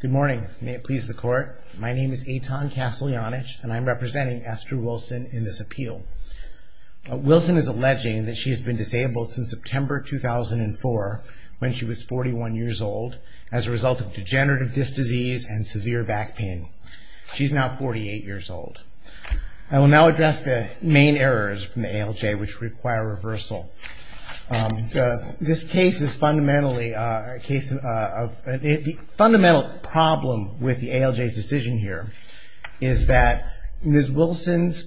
Good morning, may it please the court. My name is Eitan Kasteljanich and I'm representing Astrue Wilson in this appeal. Wilson is alleging that she has been disabled since September 2004 when she was 41 years old as a result of degenerative disc disease and severe back pain. She's now 48 years old. I will now address the main errors from the ALJ which require reversal. This case is fundamentally, the fundamental problem with the ALJ's decision here is that Ms. Wilson's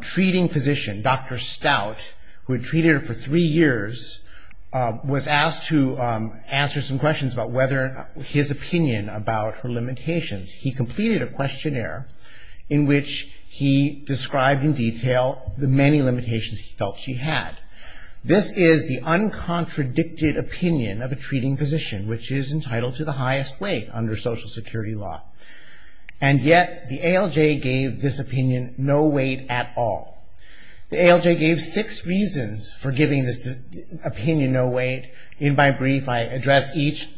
treating physician, Dr. Stout, who had treated her for three years, was asked to answer some questions about whether his opinion about her limitations. He completed a questionnaire in which he described in detail the many limitations he felt she had. This is the uncontradicted opinion of a treating physician which is entitled to the highest weight under social security law. And yet, the ALJ gave this opinion no weight at all. The ALJ gave six reasons for giving this opinion no weight. In my brief, I address each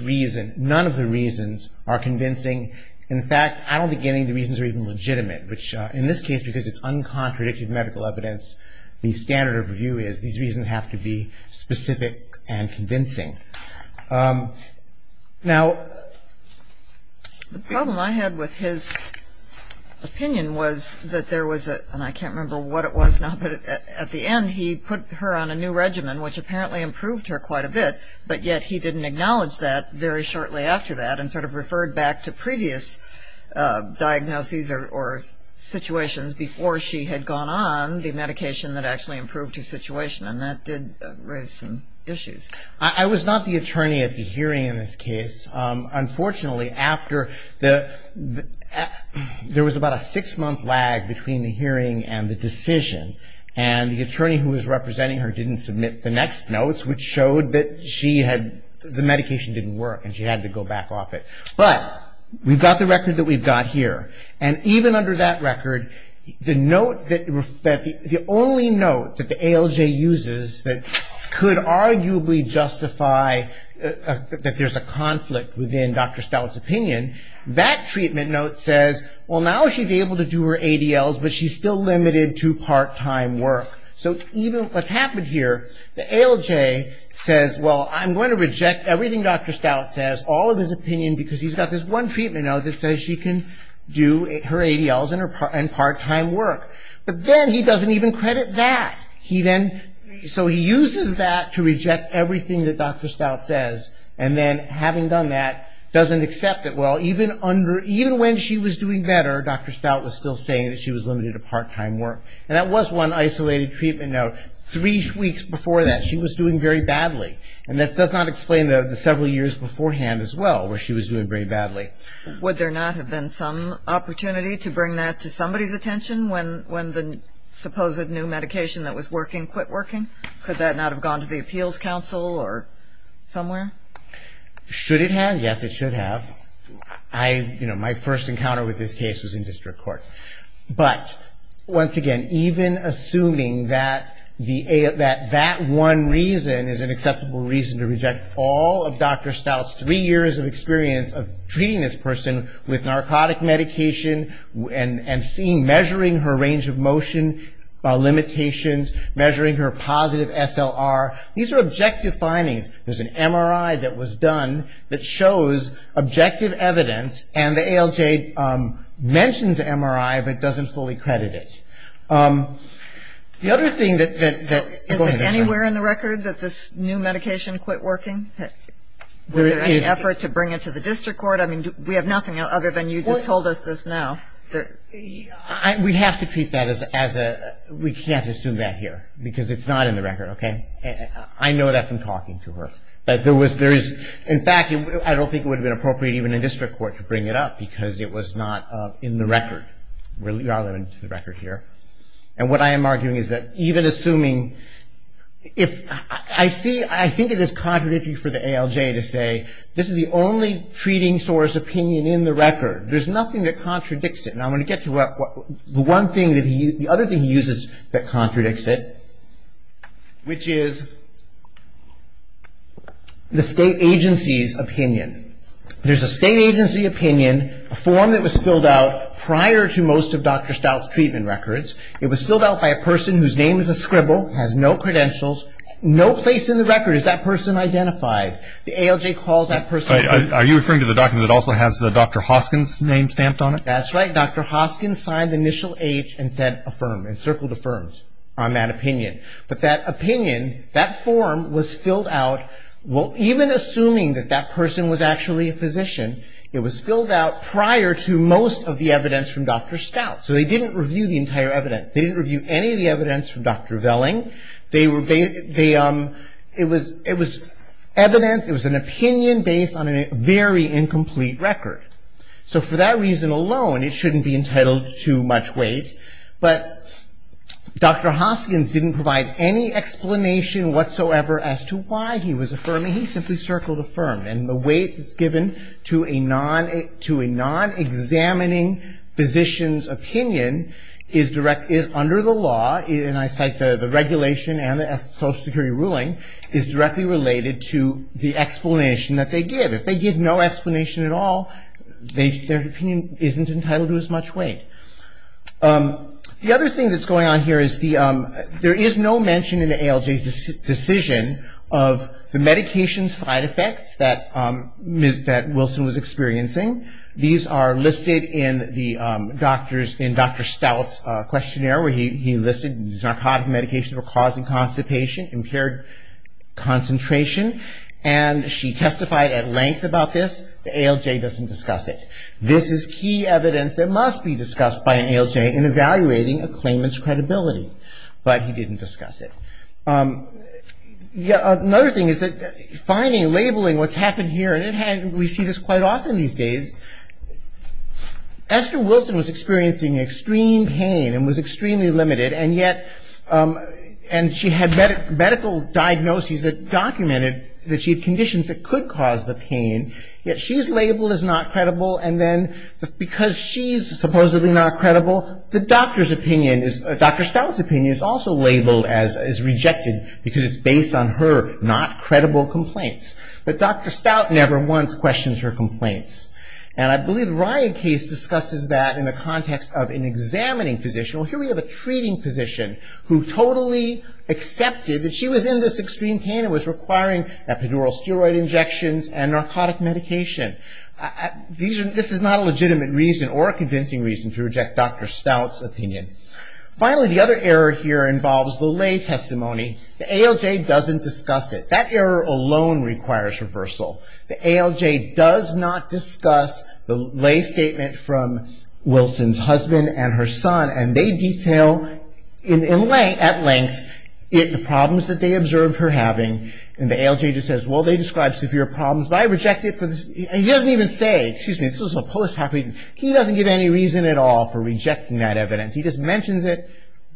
reason. None of the reasons are convincing. In fact, I don't think any of the reasons are even legitimate which in this case because it's uncontradicted medical evidence, the standard of review is these reasons have to be specific and convincing. Now the problem I had with his opinion was that there was a, and I can't remember what it was now, but at the end he put her on a new regimen which apparently improved her quite a bit, but yet he didn't acknowledge that very shortly after that and sort of referred back to previous diagnoses or situations before she had gone on the medication that actually improved her situation and that did raise some issues. I was not the attorney at the hearing in this case. Unfortunately, after the, there was about a six month lag between the hearing and the decision and the attorney who was that she had, the medication didn't work and she had to go back off it, but we've got the record that we've got here and even under that record, the note that, the only note that the ALJ uses that could arguably justify that there's a conflict within Dr. Stout's opinion, that treatment note says, well now she's able to do her ADLs but she's still limited to part-time work. So even what's happened here, the ALJ says, well I'm going to reject everything Dr. Stout says, all of his opinion because he's got this one treatment note that says she can do her ADLs and part-time work, but then he doesn't even credit that. He then, so he uses that to reject everything that Dr. Stout says and then having done that, doesn't accept it. Well, even when she was doing better, Dr. Stout was still saying that she was limited to part-time work and that was one isolated treatment note. Three weeks before that, she was doing very badly and that does not explain the several years beforehand as well where she was doing very badly. Would there not have been some opportunity to bring that to somebody's attention when the supposed new medication that was working quit working? Could that not have gone to the appeals council or somewhere? Should it have? Yes, it should have. I, you know, my first encounter with this case was in district court. But, once again, even assuming that that one reason is an acceptable reason to reject all of Dr. Stout's three years of experience of treating this person with narcotic medication and seeing, measuring her range of motion limitations, measuring her positive SLR, these are objective findings. There's an MRI that was done that shows objective evidence and the ALJ mentions the MRI, but doesn't fully credit it. The other thing that, go ahead, I'm sorry. Is it anywhere in the record that this new medication quit working? Was there any effort to bring it to the district court? I mean, we have nothing other than you just told us this now. We have to treat that as a, we can't assume that here because it's not in the record, okay? I know that from talking to her. But there was, there is, in fact, I don't think it would have been appropriate even in district court to bring it up because it was not in the record. We are limited to the record here. And what I am arguing is that even assuming, if, I see, I think it is contradictory for the ALJ to say, this is the only treating source opinion in the record. There's nothing that contradicts it. And I'm going to get to what, the one thing that he, the other thing he uses that contradicts it, which is the state agency's opinion. There's a state agency opinion, a form that was filled out prior to most of Dr. Stout's treatment records. It was filled out by a person whose name is a scribble, has no credentials, no place in the record is that person identified. The ALJ calls that person. Are you referring to the document that also has Dr. Hoskins' name stamped on it? That's right. Dr. Hoskins signed the initial H and said affirmed, and circled affirmed on that opinion. But that opinion, that form was filled out, well, even assuming that that person was actually a physician, it was filled out prior to most of the evidence from Dr. Stout. So they didn't review the entire evidence. They didn't review any of the evidence from Dr. Velling. They were, they, it was, it was evidence, it was an opinion based on a very incomplete record. So for that reason alone, it shouldn't be entitled to much weight. But Dr. Hoskins didn't provide any explanation whatsoever as to why he was affirming. He simply circled affirmed. And the weight that's given to a non, to a non-examining physician's opinion is direct, is under the law, and I cite the regulation and the Social Security Ruling, is directly related to the explanation that they give. If they give no explanation at all, they, their opinion isn't entitled to as much weight. The other thing that's going on here is the, there is no mention in the ALJ's decision of the medication side effects that Ms., that Wilson was experiencing. These are listed in the doctor's, in Dr. Stout's questionnaire where he listed narcotic medications were causing constipation, impaired concentration, and she testified at length about this. The ALJ doesn't discuss it. This is key evidence that must be discussed by an ALJ in evaluating a claimant's credibility. But he didn't discuss it. Another thing is that finding, labeling what's happened here, and it had, we see this quite often these days. Esther Wilson was experiencing extreme pain and was extremely limited, and yet, and she had medical diagnoses that documented that she had conditions that could cause the pain, yet she's labeled as not credible, and then because she's supposedly not credible, the doctor's opinion is, Dr. Stout's opinion is also labeled as rejected because it's based on her not credible complaints. But Dr. Stout never once questions her complaints. And I believe Ryan Case discusses that in the context of an examining physician. Here we have a treating physician who totally accepted that she was in this extreme pain and was requiring epidural steroid injections and narcotic medication. This is not a legitimate reason or a convincing reason to reject Dr. Stout's opinion. Finally, the other error here involves the lay testimony. The ALJ doesn't discuss it. That error alone requires reversal. The ALJ does not discuss the lay statement from Wilson's husband and her son, and they detail in lay, at length, the problems that they observed her having, and the ALJ just says, well, they described severe problems, but I reject it for this, and he doesn't even say, excuse me, this was a post-hoc reason. He doesn't give any reason at all for rejecting that evidence. He just mentions it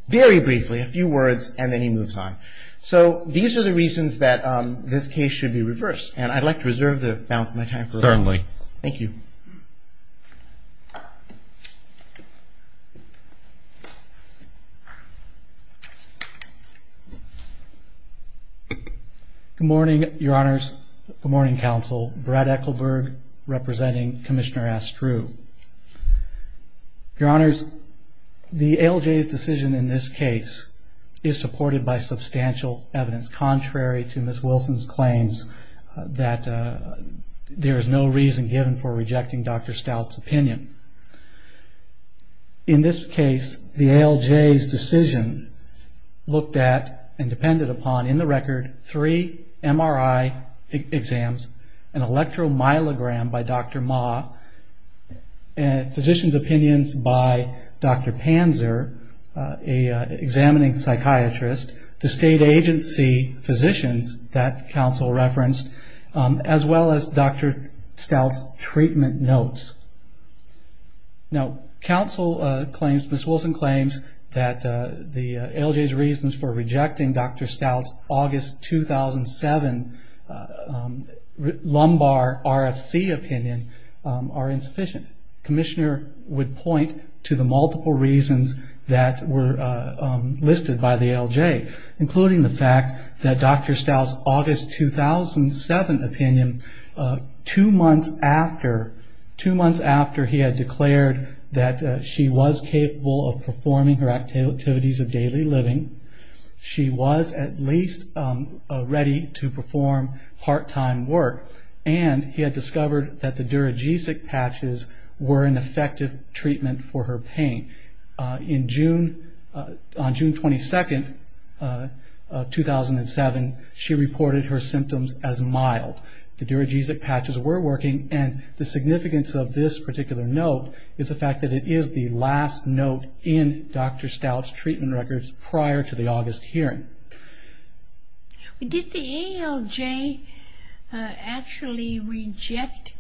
very briefly, a few words, and then he moves on. So these are the reasons that this case should be reversed, and I'd like to reserve the balance of my time for a moment. Thank you. Good morning, Your Honors. Good morning, Counsel. Brad Ekelberg, representing Commissioner Astru. Your Honors, the ALJ's decision in this case is supported by substantial evidence, contrary to Ms. Wilson's claims, that there is no reason given for rejecting Dr. Stout's opinion. In this case, the ALJ's decision looked at and depended upon, in the record, three MRI exams, an electromyelogram by Dr. Ma, physician's opinions by Dr. Panzer, an examining psychiatrist, the state agency physicians that Counsel referenced, as well as Dr. Stout's treatment notes. Now, Counsel claims, Ms. Wilson claims, that the ALJ's reasons for rejecting Dr. Stout's August 2007 lumbar RFC opinion are insufficient. Commissioner would point to the multiple reasons that were listed by the ALJ, including the fact that Dr. Stout's August 2007 opinion, two months after he had declared that she was capable of performing her activities of daily living, she was at least ready to perform part-time work, and he had discovered that the duragesic patches were an effective treatment for her pain. On June 22, 2007, she reported her symptoms as mild. The duragesic patches were working, and the significance of this particular note is the fact that it is the last note in Dr. Stout's treatment records prior to the August hearing. Did the ALJ actually reject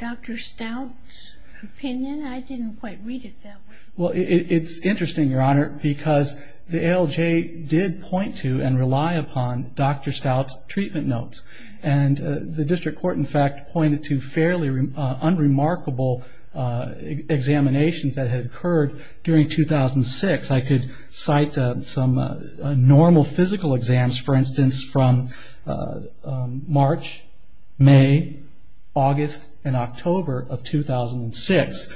Dr. Stout's opinion? I didn't quite read it that way. Well, it's interesting, Your Honor, because the ALJ did point to and rely upon Dr. Stout's treatment notes, and the district court, in fact, pointed to fairly unremarkable examinations that had occurred during 2006. I could cite some normal physical exams, for instance, from March, May, August, and October of 2006,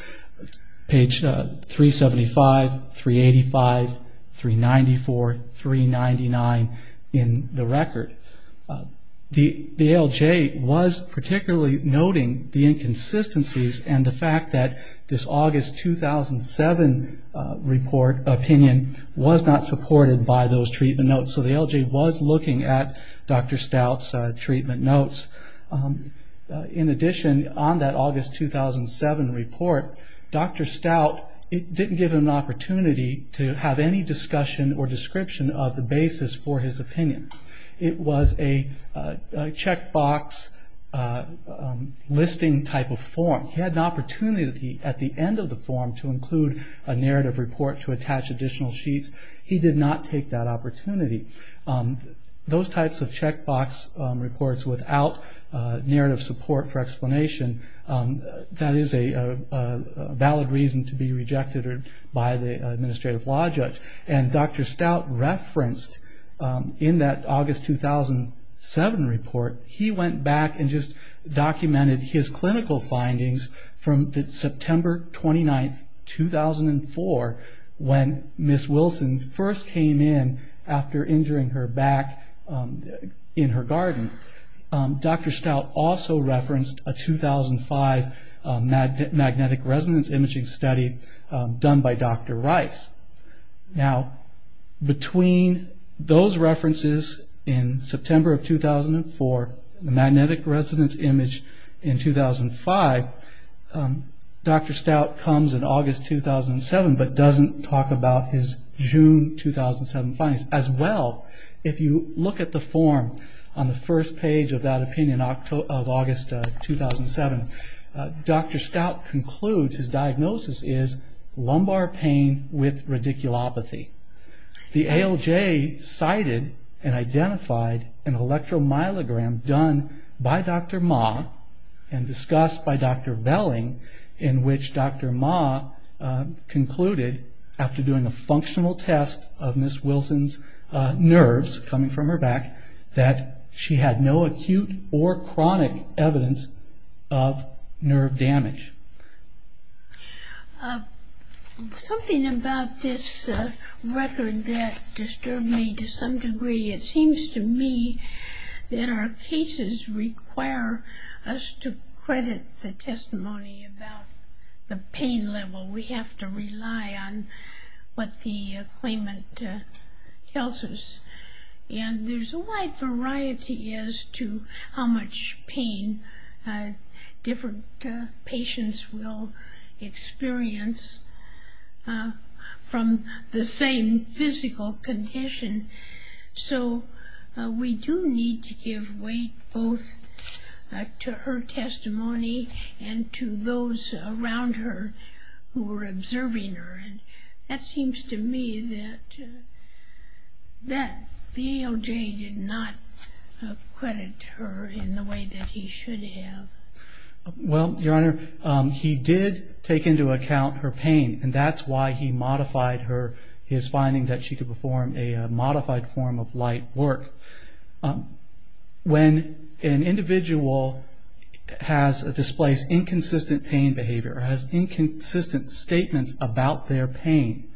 page 375, 385, 394, 399 in the record. The August 2007 opinion was not supported by those treatment notes, so the ALJ was looking at Dr. Stout's treatment notes. In addition, on that August 2007 report, Dr. Stout didn't give him an opportunity to have any discussion or description of the basis for his opinion. It was a checkbox listing type of form. He had an opportunity at the end of the hearing to include a narrative report to attach additional sheets. He did not take that opportunity. Those types of checkbox reports without narrative support for explanation, that is a valid reason to be rejected by the administrative law judge. Dr. Stout referenced in that August 2007 report, he went back and just documented his clinical findings from September 29, 2004, when Ms. Wilson first came in after injuring her back in her garden. Dr. Stout also referenced a 2005 magnetic resonance imaging study done by Dr. Rice. Between those references in September of 2004 and the magnetic resonance image in 2005, Dr. Stout comes in August 2007 but doesn't talk about his June 2007 findings. As well, if you look at the form on the first page of that opinion of August 2007, Dr. Stout concludes his diagnosis is lumbar pain with an electromyelogram done by Dr. Ma and discussed by Dr. Velling, in which Dr. Ma concluded after doing a functional test of Ms. Wilson's nerves coming from her back that she had no acute or chronic evidence of nerve damage. Something about this record that disturbed me to some degree, it seems to me that our cases require us to credit the testimony about the pain level. We have to rely on what the claimant tells us. And there's a wide variety as to how much pain different patients have experienced from the same physical condition. So we do need to give weight both to her testimony and to those around her who are observing her. That seems to me that the AOJ did not credit her in the way that he should have. Well, Your Honor, he did take into account her pain and that's why he modified her, his finding that she could perform a modified form of light work. When an individual has displaced inconsistent pain behavior, has inconsistent statements about their pain,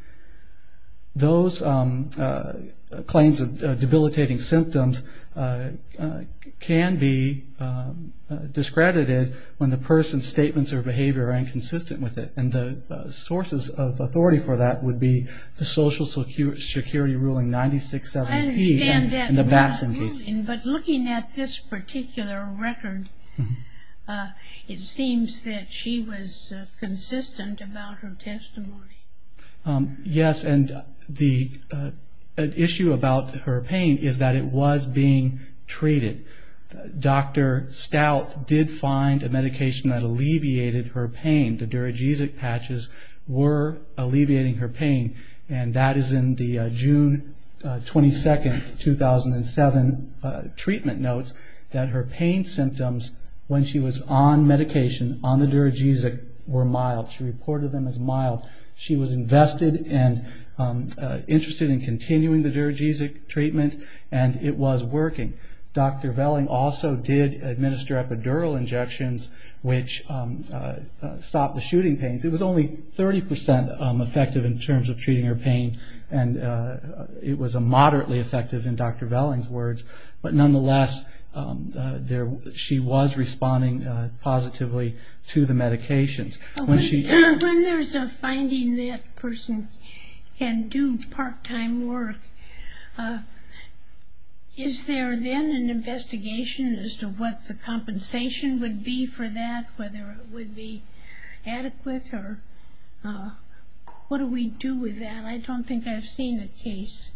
those claims of debilitating symptoms can be discredited by the AOJ. And I think that can be discredited when the person's statements or behavior are inconsistent with it. And the sources of authority for that would be the Social Security Ruling 96-7-P and the Batson case. But looking at this particular record, it seems that she was consistent about her testimony. Yes, and the issue about her pain is that it was being treated. Dr. Stout did find that medication that alleviated her pain. The duragesic patches were alleviating her pain and that is in the June 22, 2007 treatment notes that her pain symptoms when she was on medication on the duragesic were mild. She reported them as mild. She was invested and interested in continuing the duragesic treatment and it was working. Dr. Velling also did administer epidural injections which stopped the shooting pains. It was only 30% effective in terms of treating her pain and it was moderately effective in Dr. Velling's words. But nonetheless she was responding positively to the medications. When there's a finding that a person can do part-time work, is there then an investigation as to what the compensation would be for that? Whether it would be adequate or what do we do with that? I don't think I've seen a case.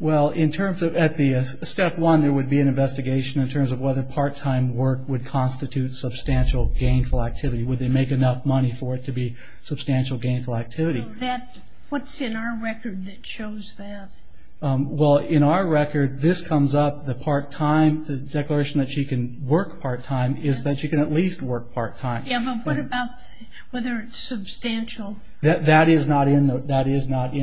Well in terms of at the step one there would be an investigation in terms of whether part-time work would constitute substantial gainful activity. Would they make enough money for it to be substantial gainful activity? What's in our record that shows that? Well in our record this comes up, the part-time, the declaration that she can work part-time is that she can at least work part-time. Yeah but what about whether it's substantial? That is not in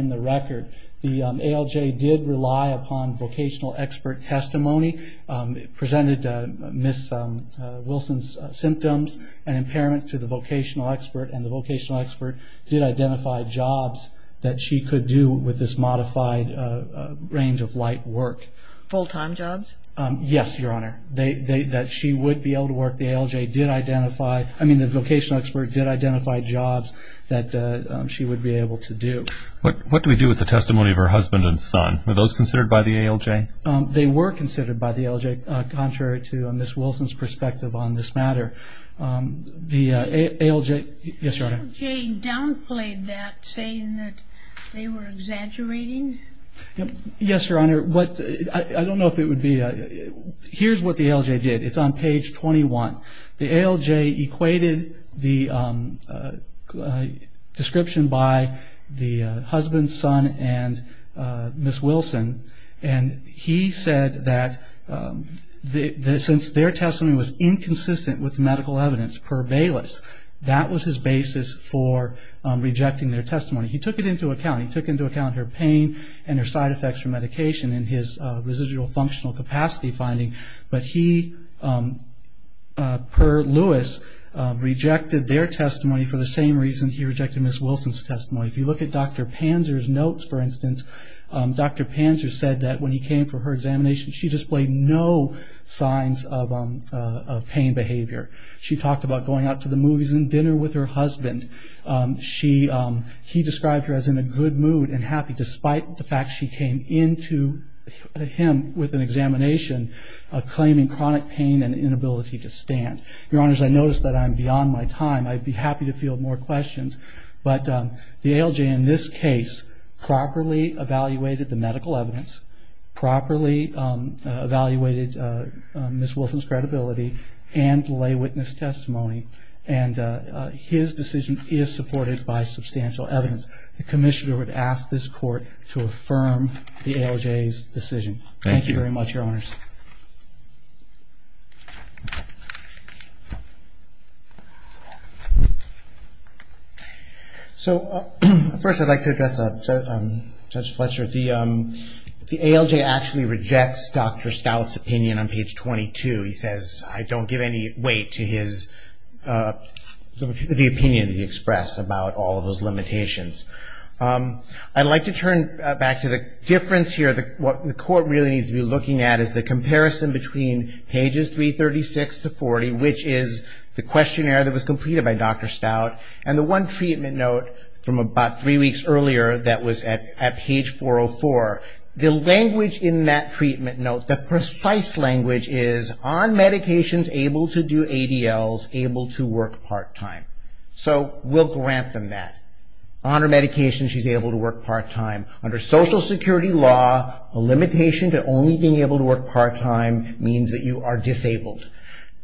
the record. The ALJ did rely upon vocational expert testimony. It presented Ms. Wilson's symptoms and impairments to the vocational expert and the vocational expert did identify jobs that she could do with this modified range of light work. Full-time jobs? Yes, Your Honor. That she would be able to work. The ALJ did identify, I mean the vocational expert did identify jobs that she would be able to do. What do we do with the testimony of her husband and son? Were those considered by the ALJ? They were considered by the ALJ contrary to Ms. Wilson's perspective on this matter. The ALJ downplayed that saying that they were exaggerating? Yes Your Honor. Here's what the ALJ did. It's on page 21. The ALJ equated the description by the husband, son and Ms. Wilson and he said that since their testimony was inconsistent with the medical evidence per Bayless, that was his basis for rejecting their testimony. He took it into account. He took into account her pain and her side effects from medication in his residual functional capacity finding but he per Lewis rejected their testimony for the same reason he rejected Ms. Wilson's testimony. If you look at Dr. Panzer's notes for instance, Dr. Panzer said that when he came for her examination she displayed no signs of pain behavior. She talked about going out to the movies and dinner with her husband. He described her as in a good mood and happy despite the fact she came into him with an examination claiming chronic pain and inability to stand. Your Honors, I notice that I'm beyond my time. I'd be happy to field more questions but the ALJ in this case properly evaluated the medical evidence, properly evaluated the patient's Ms. Wilson's credibility and lay witness testimony and his decision is supported by substantial evidence. The Commissioner would ask this court to affirm the ALJ's decision. Thank you very much Your Honors. So first I'd like to address Judge Fletcher. The ALJ actually rejects Dr. Stout's opinion on page 22. He says I don't give any weight to the opinion he expressed about all of those limitations. I'd like to turn back to the difference here. What the court really needs to be looking at is the comparison between pages 336 to 40 which is the questionnaire that was completed by Dr. Stout and the one treatment note from about three weeks earlier that was at page 404. The language in that treatment note, the precise language is on medications able to do ADLs, able to work part-time. So we'll grant them that. On her medications she's able to work part-time. Under Social Security law, a limitation to only being able to work part-time means that you are disabled.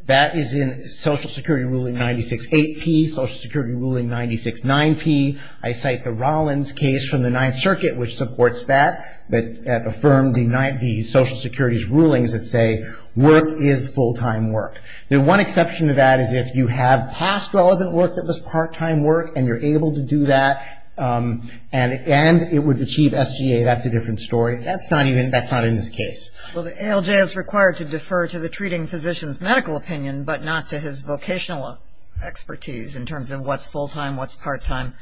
That is in Social Security Ruling 96.8p, Social Security Ruling 96.9p. I cite the Rollins case from the Ninth Circuit which supports that, that affirmed the Social Security's rulings that say work is full-time work. The one exception to that is if you have past relevant work that was part-time work and you're able to do that and it would achieve SGA, that's a different story. That's not even, that's not in this case. Well the ALJ is required to defer to the treating physician's medical opinion but not to his vocational expertise in terms of what's full-time, what's part-time.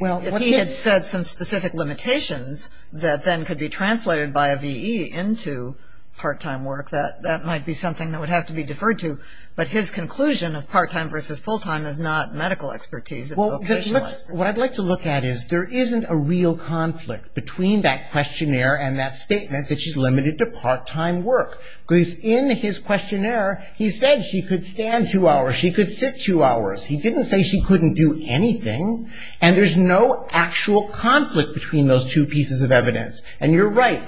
If he had said some specific limitations that then could be translated by a VE into part-time work, that might be something that would have to be deferred to. But his conclusion of part-time versus full-time is not medical expertise, it's vocational expertise. What I'd like to look at is there isn't a real conflict between that questionnaire and that statement that she's limited to part-time work. Because in his questionnaire he said she could stand two hours, she could sit two hours. He didn't say she couldn't do anything. And there's no actual conflict between those two pieces of evidence. And you're right,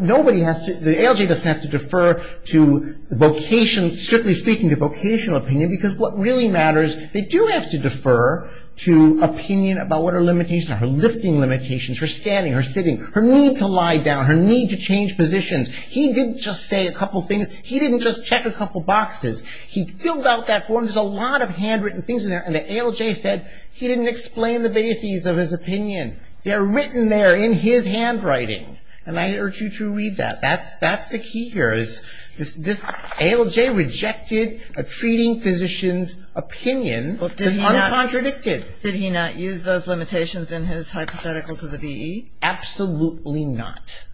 nobody has to, the ALJ doesn't have to defer to vocation, strictly speaking to vocational opinion because what really matters, they do have to defer to opinion about what are limitations, her lifting limitations, her standing, her sitting, her need to lie down, her need to change positions. He didn't just say a couple things, he didn't just check a couple boxes. He filled out that form, there's a lot of handwritten things in there. And the ALJ said he didn't explain the bases of his opinion. They're written there in his handwriting. And I urge you to read that. That's the key here. This ALJ rejected a treating physician's opinion, it's uncontradicted. Jody Freeman-Smith Did he not use those limitations in his hypothetical to the VE? Absolutely not.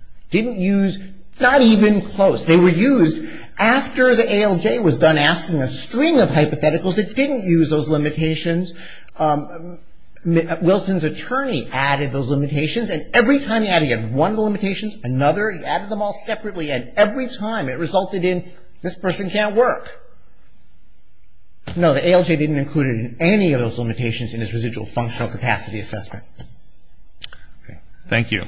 Not even close. They were used after the ALJ was done asking a string of hypotheticals, it didn't use those limitations. Wilson's attorney added those limitations and every time he added one of the limitations, another, he added them all separately. And every time it resulted in, this person can't work. No, the ALJ didn't include any of those limitations in his residual functional capacity assessment. Thank you. Thank you.